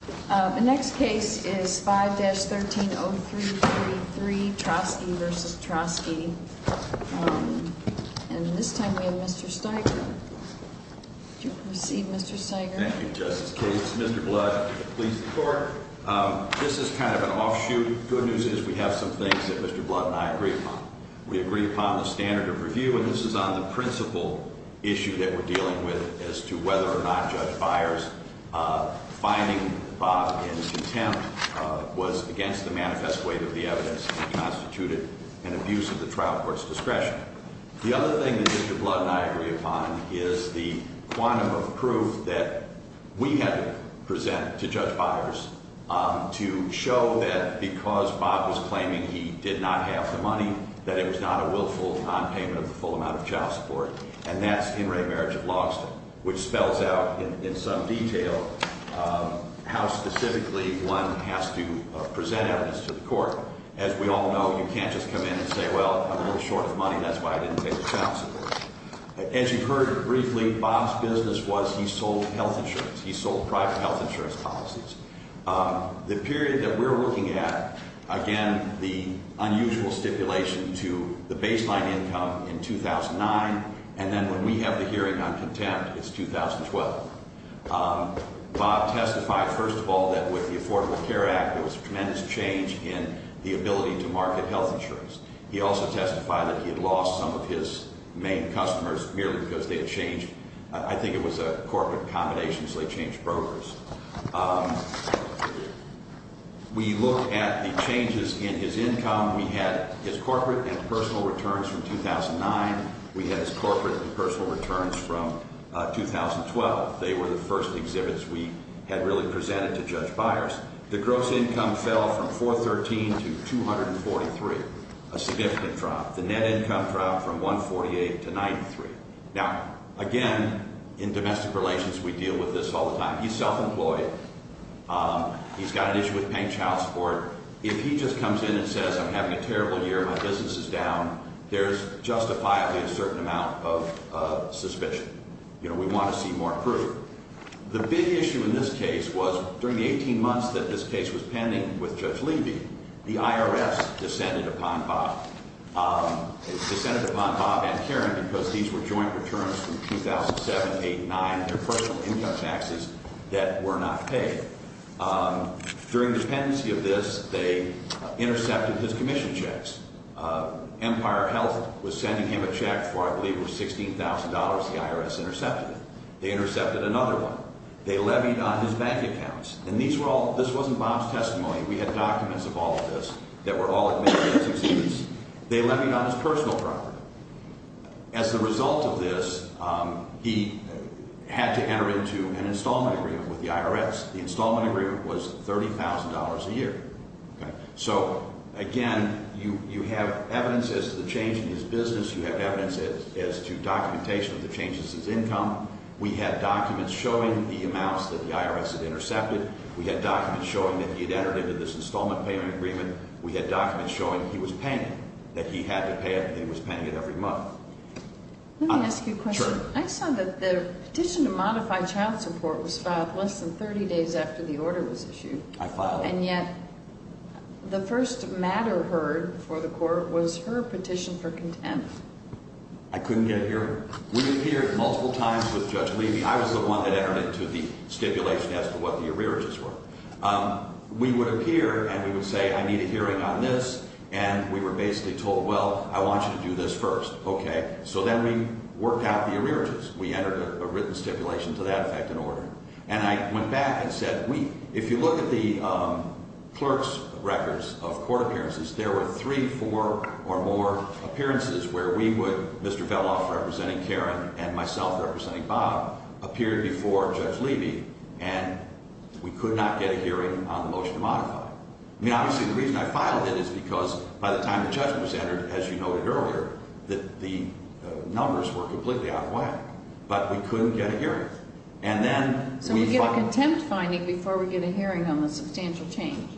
The next case is 5-13033, Troske v. Troske, and this time we have Mr. Steiger. Would you proceed, Mr. Steiger? Thank you, Justice Kagan. This is Mr. Blood of the Police Department. This is kind of an offshoot. The good news is we have some things that Mr. Blood and I agree upon. We agree upon the standard of review, and this is on the principal issue that we're dealing with as to whether or not Judge Byers finding Bob in contempt was against the manifest weight of the evidence that constituted an abuse of the trial court's discretion. The other thing that Mr. Blood and I agree upon is the quantum of proof that we had to present to Judge Byers to show that because Bob was claiming he did not have the money, that it was not a willful nonpayment of the full amount of child support, and that's In Re Marriage of Logston, which spells out in some detail how specifically one has to present evidence to the court. As we all know, you can't just come in and say, well, I'm a little short of money, that's why I didn't pay the child support. As you heard briefly, Bob's business was he sold health insurance. He sold private health insurance policies. The period that we're looking at, again, the unusual stipulation to the baseline income in 2009, and then when we have the hearing on contempt, it's 2012. Bob testified, first of all, that with the Affordable Care Act, there was tremendous change in the ability to market health insurance. He also testified that he had lost some of his main customers merely because they had changed, I think it was a corporate combination, so they changed brokers. We looked at the changes in his income. We had his corporate and personal returns from 2009. We had his corporate and personal returns from 2012. They were the first exhibits we had really presented to Judge Byers. The gross income fell from 413 to 243, a significant drop. The net income dropped from 148 to 93. Now, again, in domestic relations, we deal with this all the time. He's self-employed. He's got an issue with paying child support. If he just comes in and says, I'm having a terrible year, my business is down, there's justifiably a certain amount of suspicion. You know, we want to see more proof. The big issue in this case was during the 18 months that this case was pending with Judge Levy, the IRS descended upon Bob and Karen because these were joint returns from 2007, 2008, 2009, their personal income taxes that were not paid. During the pendency of this, they intercepted his commission checks. Empire Health was sending him a check for I believe it was $16,000. The IRS intercepted it. They intercepted another one. They levied on his bank accounts. And these were all – this wasn't Bob's testimony. We had documents of all of this that were all admitted as he sees these. They levied on his personal property. As a result of this, he had to enter into an installment agreement with the IRS. The installment agreement was $30,000 a year. So, again, you have evidence as to the change in his business. You have evidence as to documentation of the changes in his income. We had documents showing the amounts that the IRS had intercepted. We had documents showing that he had entered into this installment payment agreement. We had documents showing he was paying it, that he had to pay it, and he was paying it every month. Let me ask you a question. Sure. I saw that the petition to modify child support was filed less than 30 days after the order was issued. I filed it. And yet the first matter heard before the court was her petition for contempt. I couldn't get it here. We appeared multiple times with Judge Levy. I was the one that entered into the stipulation as to what the arrearages were. We would appear, and we would say, I need a hearing on this. And we were basically told, well, I want you to do this first. Okay. So then we worked out the arrearages. We entered a written stipulation to that effect in order. And I went back and said, wait, if you look at the clerk's records of court appearances, there were three, four, or more appearances where we would, Mr. Veloff representing Karen and myself representing Bob, appear before Judge Levy, and we could not get a hearing on the motion to modify it. I mean, obviously the reason I filed it is because by the time the judge was entered, as you noted earlier, the numbers were completely out of whack. But we couldn't get a hearing. So we get a contempt finding before we get a hearing on the substantial change.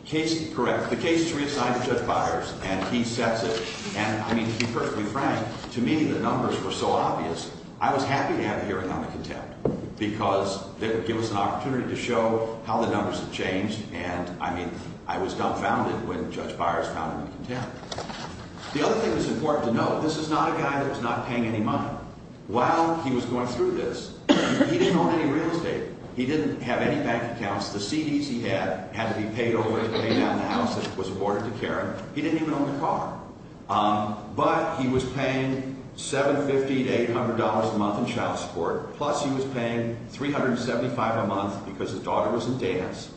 Correct. The case is reassigned to Judge Byers, and he sets it. And, I mean, to be perfectly frank, to me the numbers were so obvious, I was happy to have a hearing on the contempt because it would give us an opportunity to show how the numbers have changed. And, I mean, I was dumbfounded when Judge Byers found it in contempt. The other thing that's important to note, this is not a guy that was not paying any money. While he was going through this, he didn't own any real estate. He didn't have any bank accounts. The CDs he had had to be paid over to pay down the house that was awarded to Karen. He didn't even own a car. But he was paying $750 to $800 a month in child support, plus he was paying $375 a month because his daughter was in dance.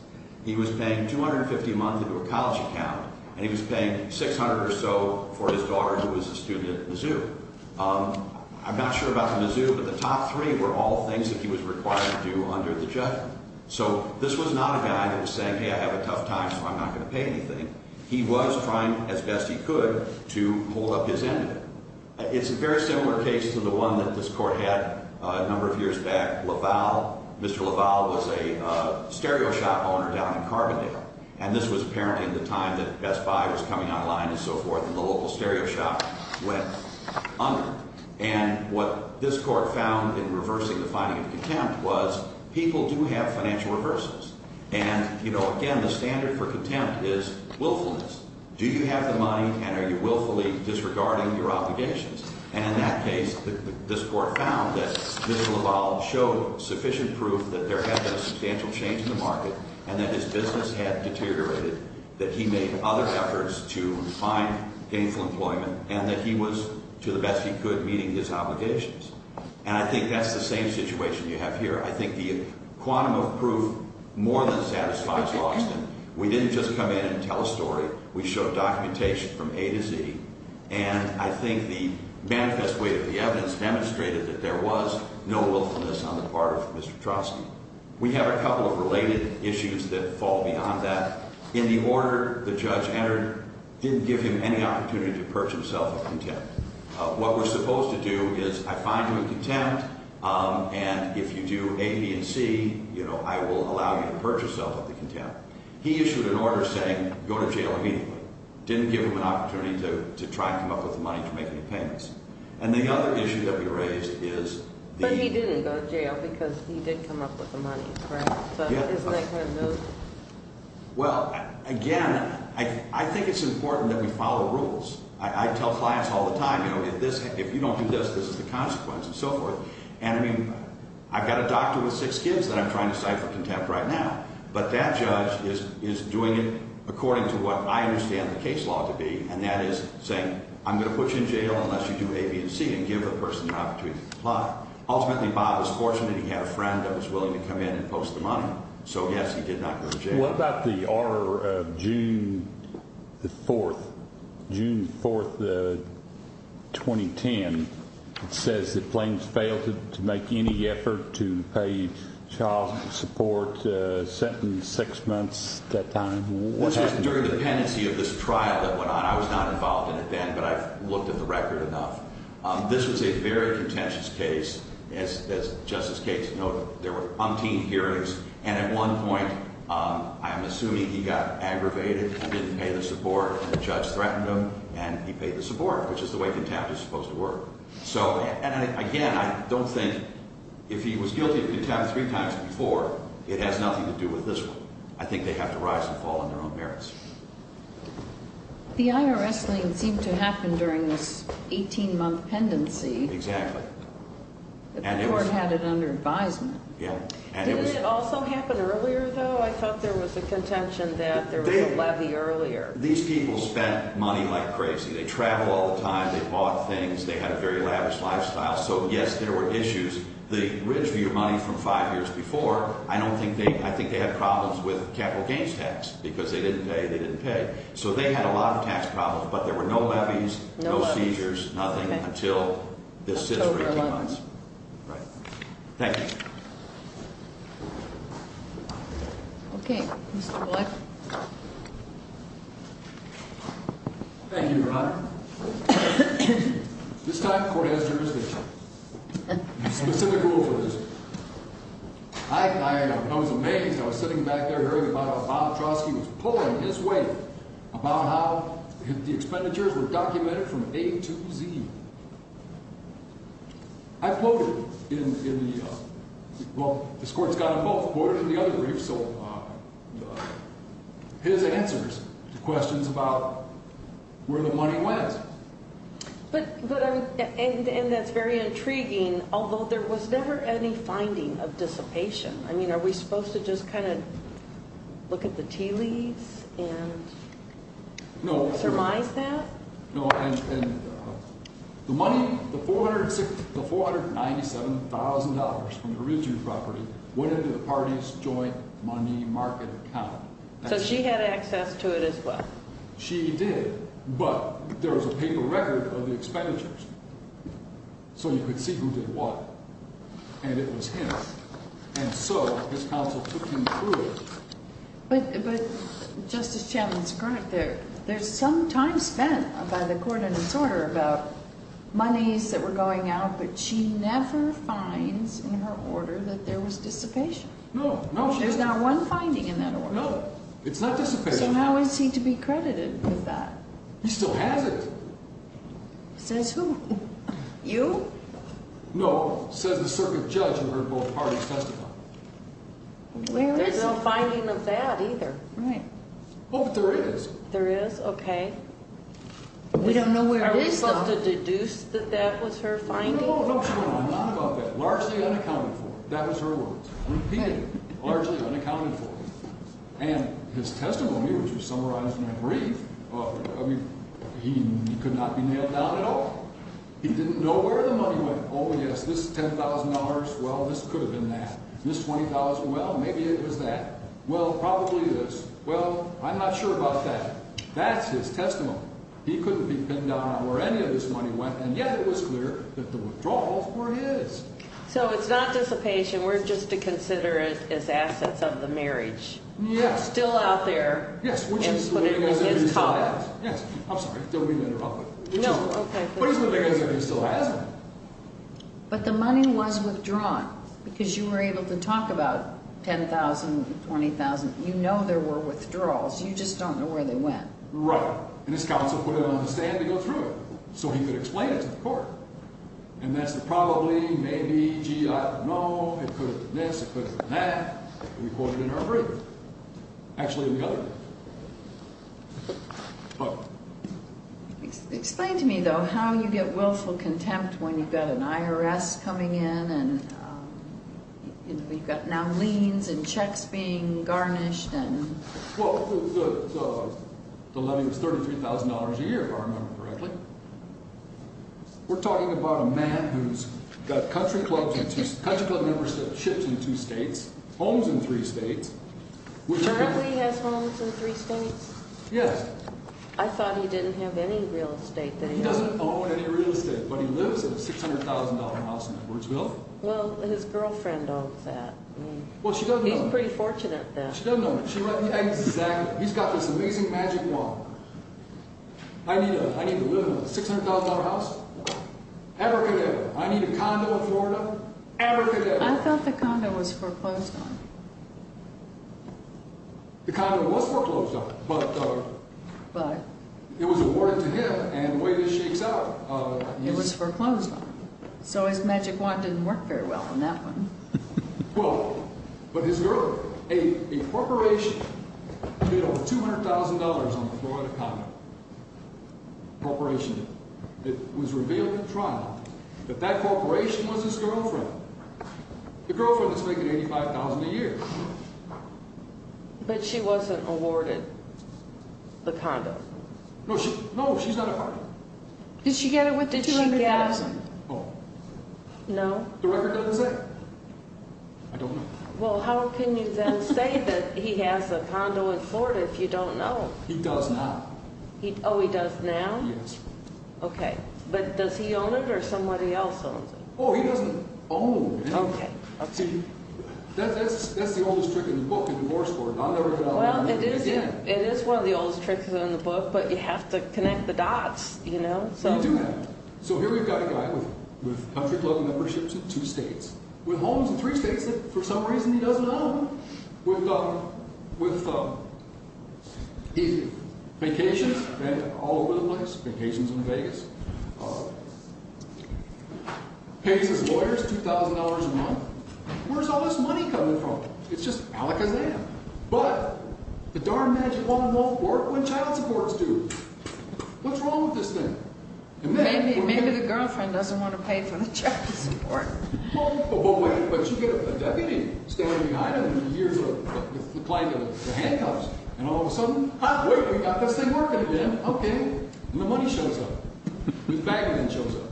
He was paying $250 a month into a college account, and he was paying $600 or so for his daughter who was a student at Mizzou. I'm not sure about the Mizzou, but the top three were all things that he was required to do under the judgment. So this was not a guy that was saying, hey, I have a tough time, so I'm not going to pay anything. He was trying as best he could to hold up his end of it. It's a very similar case to the one that this Court had a number of years back, LaValle. Mr. LaValle was a stereo shop owner down in Carbondale. And this was apparently at the time that Best Buy was coming online and so forth, and the local stereo shop went under. And what this Court found in reversing the finding of contempt was people do have financial reversals. And, you know, again, the standard for contempt is willfulness. Do you have the money and are you willfully disregarding your obligations? And in that case, this Court found that Mr. LaValle showed sufficient proof that there had been a substantial change in the market and that his business had deteriorated, that he made other efforts to find gainful employment, and that he was, to the best he could, meeting his obligations. And I think that's the same situation you have here. I think the quantum of proof more than satisfies Logsdon. We didn't just come in and tell a story. We showed documentation from A to Z. And I think the manifest way of the evidence demonstrated that there was no willfulness on the part of Mr. Petrovsky. We have a couple of related issues that fall beyond that. In the order the judge entered, didn't give him any opportunity to purge himself of contempt. What we're supposed to do is I find you in contempt, and if you do A, B, and C, you know, I will allow you to purge yourself of the contempt. He issued an order saying go to jail immediately. Didn't give him an opportunity to try and come up with the money to make any payments. And the other issue that we raised is the- But he didn't go to jail because he did come up with the money, correct? Yes. But isn't that going to move? Well, again, I think it's important that we follow rules. I tell clients all the time, you know, if you don't do this, this is the consequence, and so forth. And, I mean, I've got a doctor with six kids that I'm trying to cite for contempt right now, but that judge is doing it according to what I understand the case law to be, and that is saying I'm going to put you in jail unless you do A, B, and C and give the person an opportunity to apply. Ultimately, Bob was fortunate. He had a friend that was willing to come in and post the money. So, yes, he did not go to jail. What about the order of June 4th? June 4th, 2010, it says that claims failed to make any effort to pay child support, sentence six months at that time. This was during the pendency of this trial that went on. I was not involved in it then, but I've looked at the record enough. This was a very contentious case. As Justice Gates noted, there were umpteen hearings, and at one point, I'm assuming he got aggravated. He didn't pay the support, and the judge threatened him, and he paid the support, which is the way contempt is supposed to work. So, and again, I don't think if he was guilty of contempt three times before, it has nothing to do with this one. I think they have to rise and fall on their own merits. The IRS lien seemed to happen during this 18-month pendency. Exactly. The court had it under advisement. Yeah. Didn't it also happen earlier, though? I thought there was a contention that there was a levy earlier. These people spent money like crazy. They traveled all the time. They bought things. They had a very lavish lifestyle. So, yes, there were issues. The Ridgeview money from five years before, I don't think they, I think they had problems with capital gains tax because they didn't pay, they didn't pay. So they had a lot of tax problems, but there were no levies, no seizures, nothing until this is for 18 months. Right. Thank you. Mr. Black. Thank you, Your Honor. This time the court has jurisdiction. Specific rule for this. I was amazed. I was sitting back there hearing about how Bob Trotsky was pulling his weight about how the expenditures were documented from A to Z. I quoted in the, well, this court's got them both quoted in the other brief, so his answers to questions about where the money went. But, and that's very intriguing, although there was never any finding of dissipation. I mean, are we supposed to just kind of look at the tea leaves and surmise that? No, and the money, the $497,000 from the Ridgeview property went into the party's joint money market account. So she had access to it as well? She did, but there was a paper record of the expenditures, so you could see who did what. And it was him. And so his counsel took him through it. But, Justice Chambliss-Koenig, there's some time spent by the court in its order about monies that were going out, but she never finds in her order that there was dissipation. No, no, she didn't. There's not one finding in that order. No, it's not dissipated. So how is he to be credited with that? He still has it. Says who? You? No, says the circuit judge in her both parties' testimony. There's no finding of that either. Right. Oh, but there is. There is? Okay. We don't know where it was found. Are we supposed to deduce that that was her finding? No, no, no, not about that. Largely unaccounted for. That was her words. Repeatedly. Largely unaccounted for. And his testimony, which was summarized in that brief, I mean, he could not be nailed down at all. He didn't know where the money went. Oh, yes, this $10,000, well, this could have been that. This $20,000, well, maybe it was that. Well, probably this. Well, I'm not sure about that. That's his testimony. He couldn't be pinned down on where any of this money went, and yet it was clear that the withdrawals were his. So it's not dissipation. We're just to consider it as assets of the marriage. Yes. Still out there. Yes, which is the living as if he still has. Yes. I'm sorry. Don't mean to interrupt. No, okay. But he's living as if he still has it. But the money was withdrawn because you were able to talk about $10,000, $20,000. You know there were withdrawals. You just don't know where they went. Right. And his counsel put it on the stand to go through it so he could explain it to the court. And that's the probably, maybe, gee, I don't know. It could have been this. It could have been that. We quoted in our brief. Actually, in the other brief. Okay. Explain to me, though, how you get willful contempt when you've got an IRS coming in and we've got now liens and checks being garnished and... Well, the levy was $33,000 a year, if I remember correctly. We're talking about a man who's got country club memberships in two states, homes in three states. Currently has homes in three states? Yes. I thought he didn't have any real estate there. He doesn't own any real estate, but he lives in a $600,000 house in Edwardsville. Well, his girlfriend owns that. Well, she doesn't own it. He's pretty fortunate, then. She doesn't own it. Exactly. He's got this amazing magic wand. I need to live in a $600,000 house? Abracadabra. I need a condo in Florida? Abracadabra. I thought the condo was foreclosed on. The condo was foreclosed on, but... But? It was awarded to him, and the way this shakes out... It was foreclosed on. So his magic wand didn't work very well on that one. Well, but his girlfriend, a corporation, did over $200,000 on the Florida condo. A corporation did. It was revealed to Trump that that corporation was his girlfriend. The girlfriend that's making $85,000 a year. But she wasn't awarded the condo. No, she's not awarded it. Did she get it with the $200,000? Oh. No? The record doesn't say. I don't know. Well, how can you then say that he has a condo in Florida if you don't know? He does now. Oh, he does now? Yes. Okay. But does he own it, or somebody else owns it? Oh, he doesn't own it. Okay. See, that's the oldest trick in the book, to divorce for it. Well, it is one of the oldest tricks in the book, but you have to connect the dots, you know? You do have to. So here we've got a guy with country club memberships in two states, with homes in three states that, for some reason, he doesn't own, with vacations all over the place, vacations in Vegas, pays his lawyers $2,000 a month. Where's all this money coming from? It's just alakazam. But the darn magic wand won't work when child supports do. What's wrong with this thing? Maybe the girlfriend doesn't want to pay for the child support. Oh, but wait, but you get a deputy standing behind him with the client in the handcuffs, and all of a sudden, ah, wait, we've got this thing working again. Okay. And the money shows up. The bank man shows up.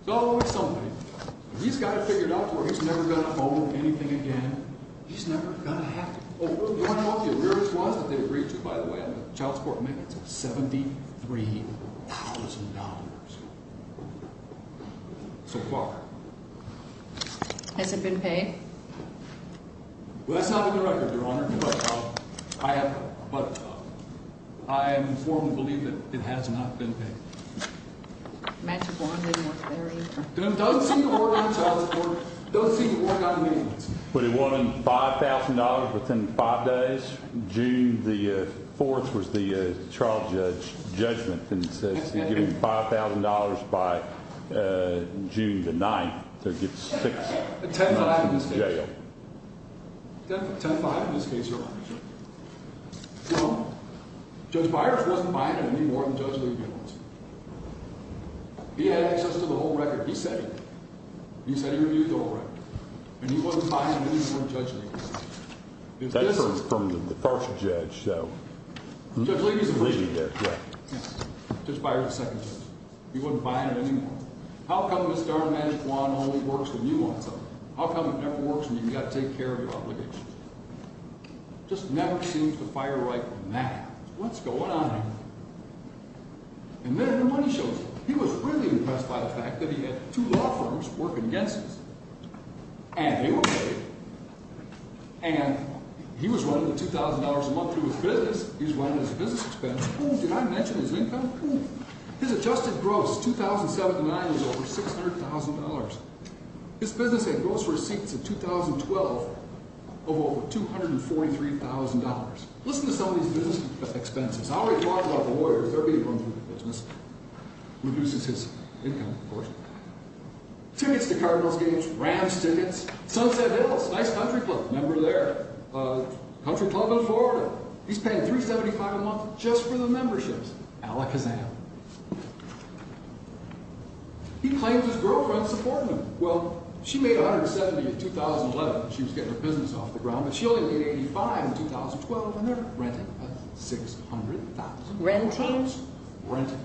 It's always something. He's got it figured out to where he's never going to owe anything again. He's never going to have to. Oh, you want to know what the arrears was that they agreed to, by the way, on the child support? Man, it's $73,000. So far. Has it been paid? Well, that's not on the record, Your Honor, but I am informed and believe that it has not been paid. Magic wand doesn't work there either. It doesn't seem to work on child support. It doesn't seem to work on anything. But it won him $5,000 within five days. June the 4th was the trial judgment, and it says he's getting $5,000 by June the 9th. So he gets six months in jail. 10-5 in this case. 10-5 in this case, Your Honor. Judge Byers wasn't buying it any more than Judge Levy was. He had access to the whole record. He said it. He said he reviewed the whole record. And he wasn't buying it any more than Judge Levy was. That's from the first judge, so. Judge Levy is the first judge. Judge Byers is the second judge. He wasn't buying it any more. How come this darn magic wand only works when you want it to? How come it never works when you've got to take care of your obligations? It just never seems to fire right from that. What's going on here? And then the money shows up. He was really impressed by the fact that he had two law firms working against him. And they were paid. And he was running $2,000 a month through his business. He was running his business expense. Oh, did I mention his income? His adjusted gross, 2007 to 2009, was over $600,000. His business had gross receipts in 2012 of over $243,000. Listen to some of these business expenses. I already talked about the lawyers. Everybody runs their business. Reduces his income, of course. Tickets to Cardinals games. Rams tickets. Sunset Hills. Nice country club. Remember there? Country club in Florida. He's paying $375 a month just for the memberships. Alakazam. He claims his girlfriend's supporting him. Well, she made $170 in 2011. She was getting her business off the ground. But she only made $85 in 2012, and they're renting. That's $600,000. Renting? Renting.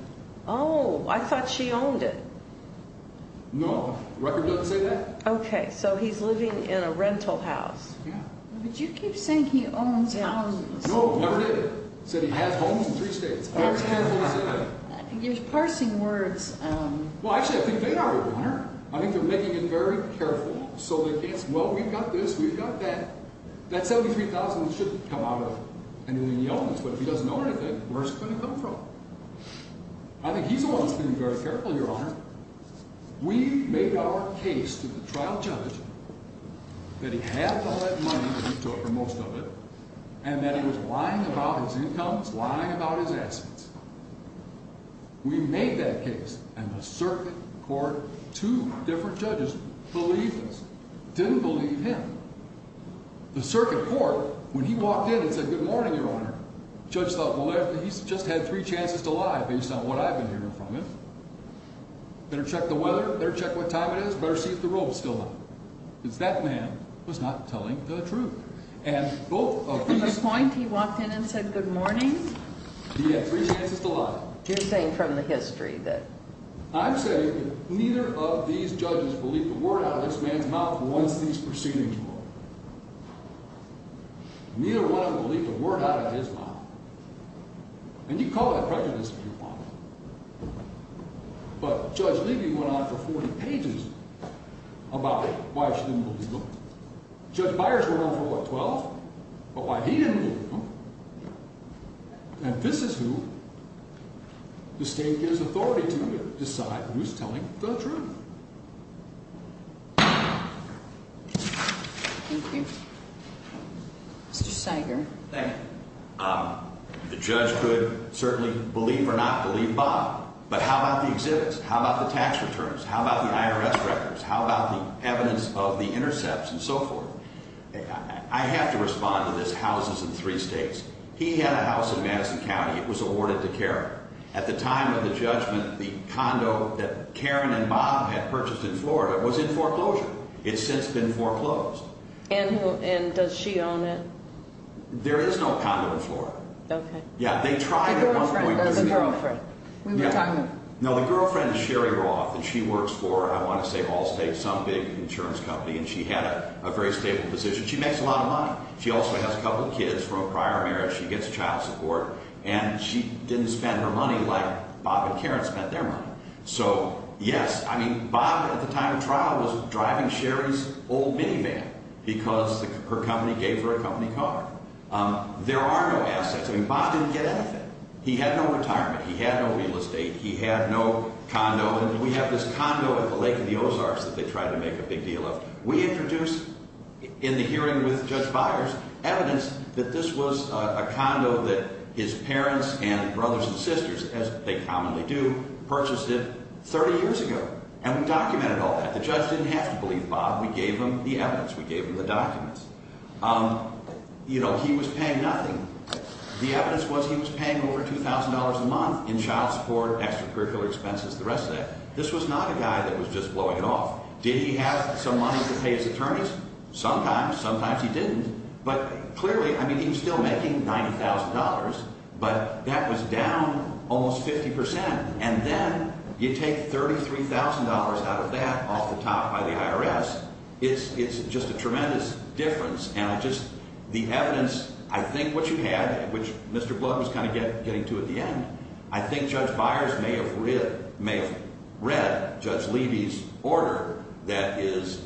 Oh, I thought she owned it. No, the record doesn't say that. Okay, so he's living in a rental house. Yeah. But you keep saying he owns homes. No, I never did. I said he has homes in three states. I was careful to say that. You're parsing words. Well, actually, I think they are, Your Honor. I think they're making it very careful. So they can't say, well, we've got this, we've got that. That $73,000 shouldn't come out of anyone he owns. But if he doesn't own anything, where's it going to come from? I think he's the one that's being very careful, Your Honor. We made our case to the trial judge that he had all that money that he took, or most of it, and that he was lying about his incomes, lying about his assets. We made that case, and the circuit court, two different judges believed us. Didn't believe him. The circuit court, when he walked in and said, good morning, Your Honor, the judge thought, well, he's just had three chances to lie based on what I've been hearing from him. Better check the weather, better check what time it is, better see if the road's still open. Because that man was not telling the truth. And both of these— From the point he walked in and said, good morning? He had three chances to lie. You're saying from the history that— I'm saying that neither of these judges believed a word out of this man's mouth once these proceedings were over. Neither one of them believed a word out of his mouth. And you call that prejudice, if you want. But Judge Levy went on for 40 pages about why she didn't believe him. Judge Byers went on for, what, 12? About why he didn't believe him. And this is who the state gives authority to decide who's telling the truth. Thank you. Mr. Sager. Thank you. The judge could certainly believe or not believe Bob. But how about the exhibits? How about the tax returns? How about the IRS records? How about the evidence of the intercepts and so forth? I have to respond to this, houses in three states. He had a house in Madison County. It was awarded to Karen. At the time of the judgment, the condo that Karen and Bob had purchased in Florida was in foreclosure. It's since been foreclosed. And does she own it? There is no condo in Florida. Okay. Yeah, they tried at one point. The girlfriend or the girlfriend? No, the girlfriend is Sherry Roth, and she works for, I want to say, Allstate, some big insurance company. And she had a very stable position. She makes a lot of money. She also has a couple of kids from a prior marriage. She gets child support. And she didn't spend her money like Bob and Karen spent their money. So, yes, I mean, Bob at the time of trial was driving Sherry's old minivan because her company gave her a company car. There are no assets. I mean, Bob didn't get anything. He had no retirement. He had no real estate. He had no condo. And we have this condo at the Lake of the Ozarks that they tried to make a big deal of. We introduced in the hearing with Judge Byers evidence that this was a condo that his parents and brothers and sisters, as they commonly do, purchased it 30 years ago. And we documented all that. The judge didn't have to believe Bob. We gave him the evidence. We gave him the documents. You know, he was paying nothing. The evidence was he was paying over $2,000 a month in child support, extracurricular expenses, the rest of that. This was not a guy that was just blowing it off. Did he have some money to pay his attorneys? Sometimes. Sometimes he didn't. But clearly, I mean, he was still making $90,000, but that was down almost 50 percent. And then you take $33,000 out of that off the top by the IRS. It's just a tremendous difference. The evidence, I think what you had, which Mr. Blood was kind of getting to at the end, I think Judge Byers may have read Judge Levy's order that is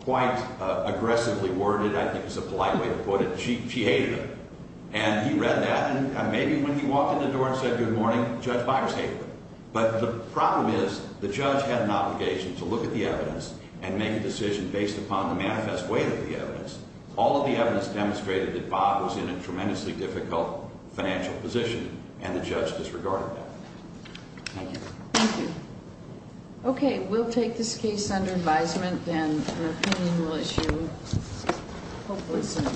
quite aggressively worded. I think it's a polite way to put it. She hated it. And he read that. And maybe when he walked in the door and said good morning, Judge Byers hated it. But the problem is the judge had an obligation to look at the evidence and make a decision based upon the manifest weight of the evidence. All of the evidence demonstrated that Bob was in a tremendously difficult financial position, and the judge disregarded that. Thank you. Thank you. Okay. We'll take this case under advisement, and an opinion we'll issue hopefully soon.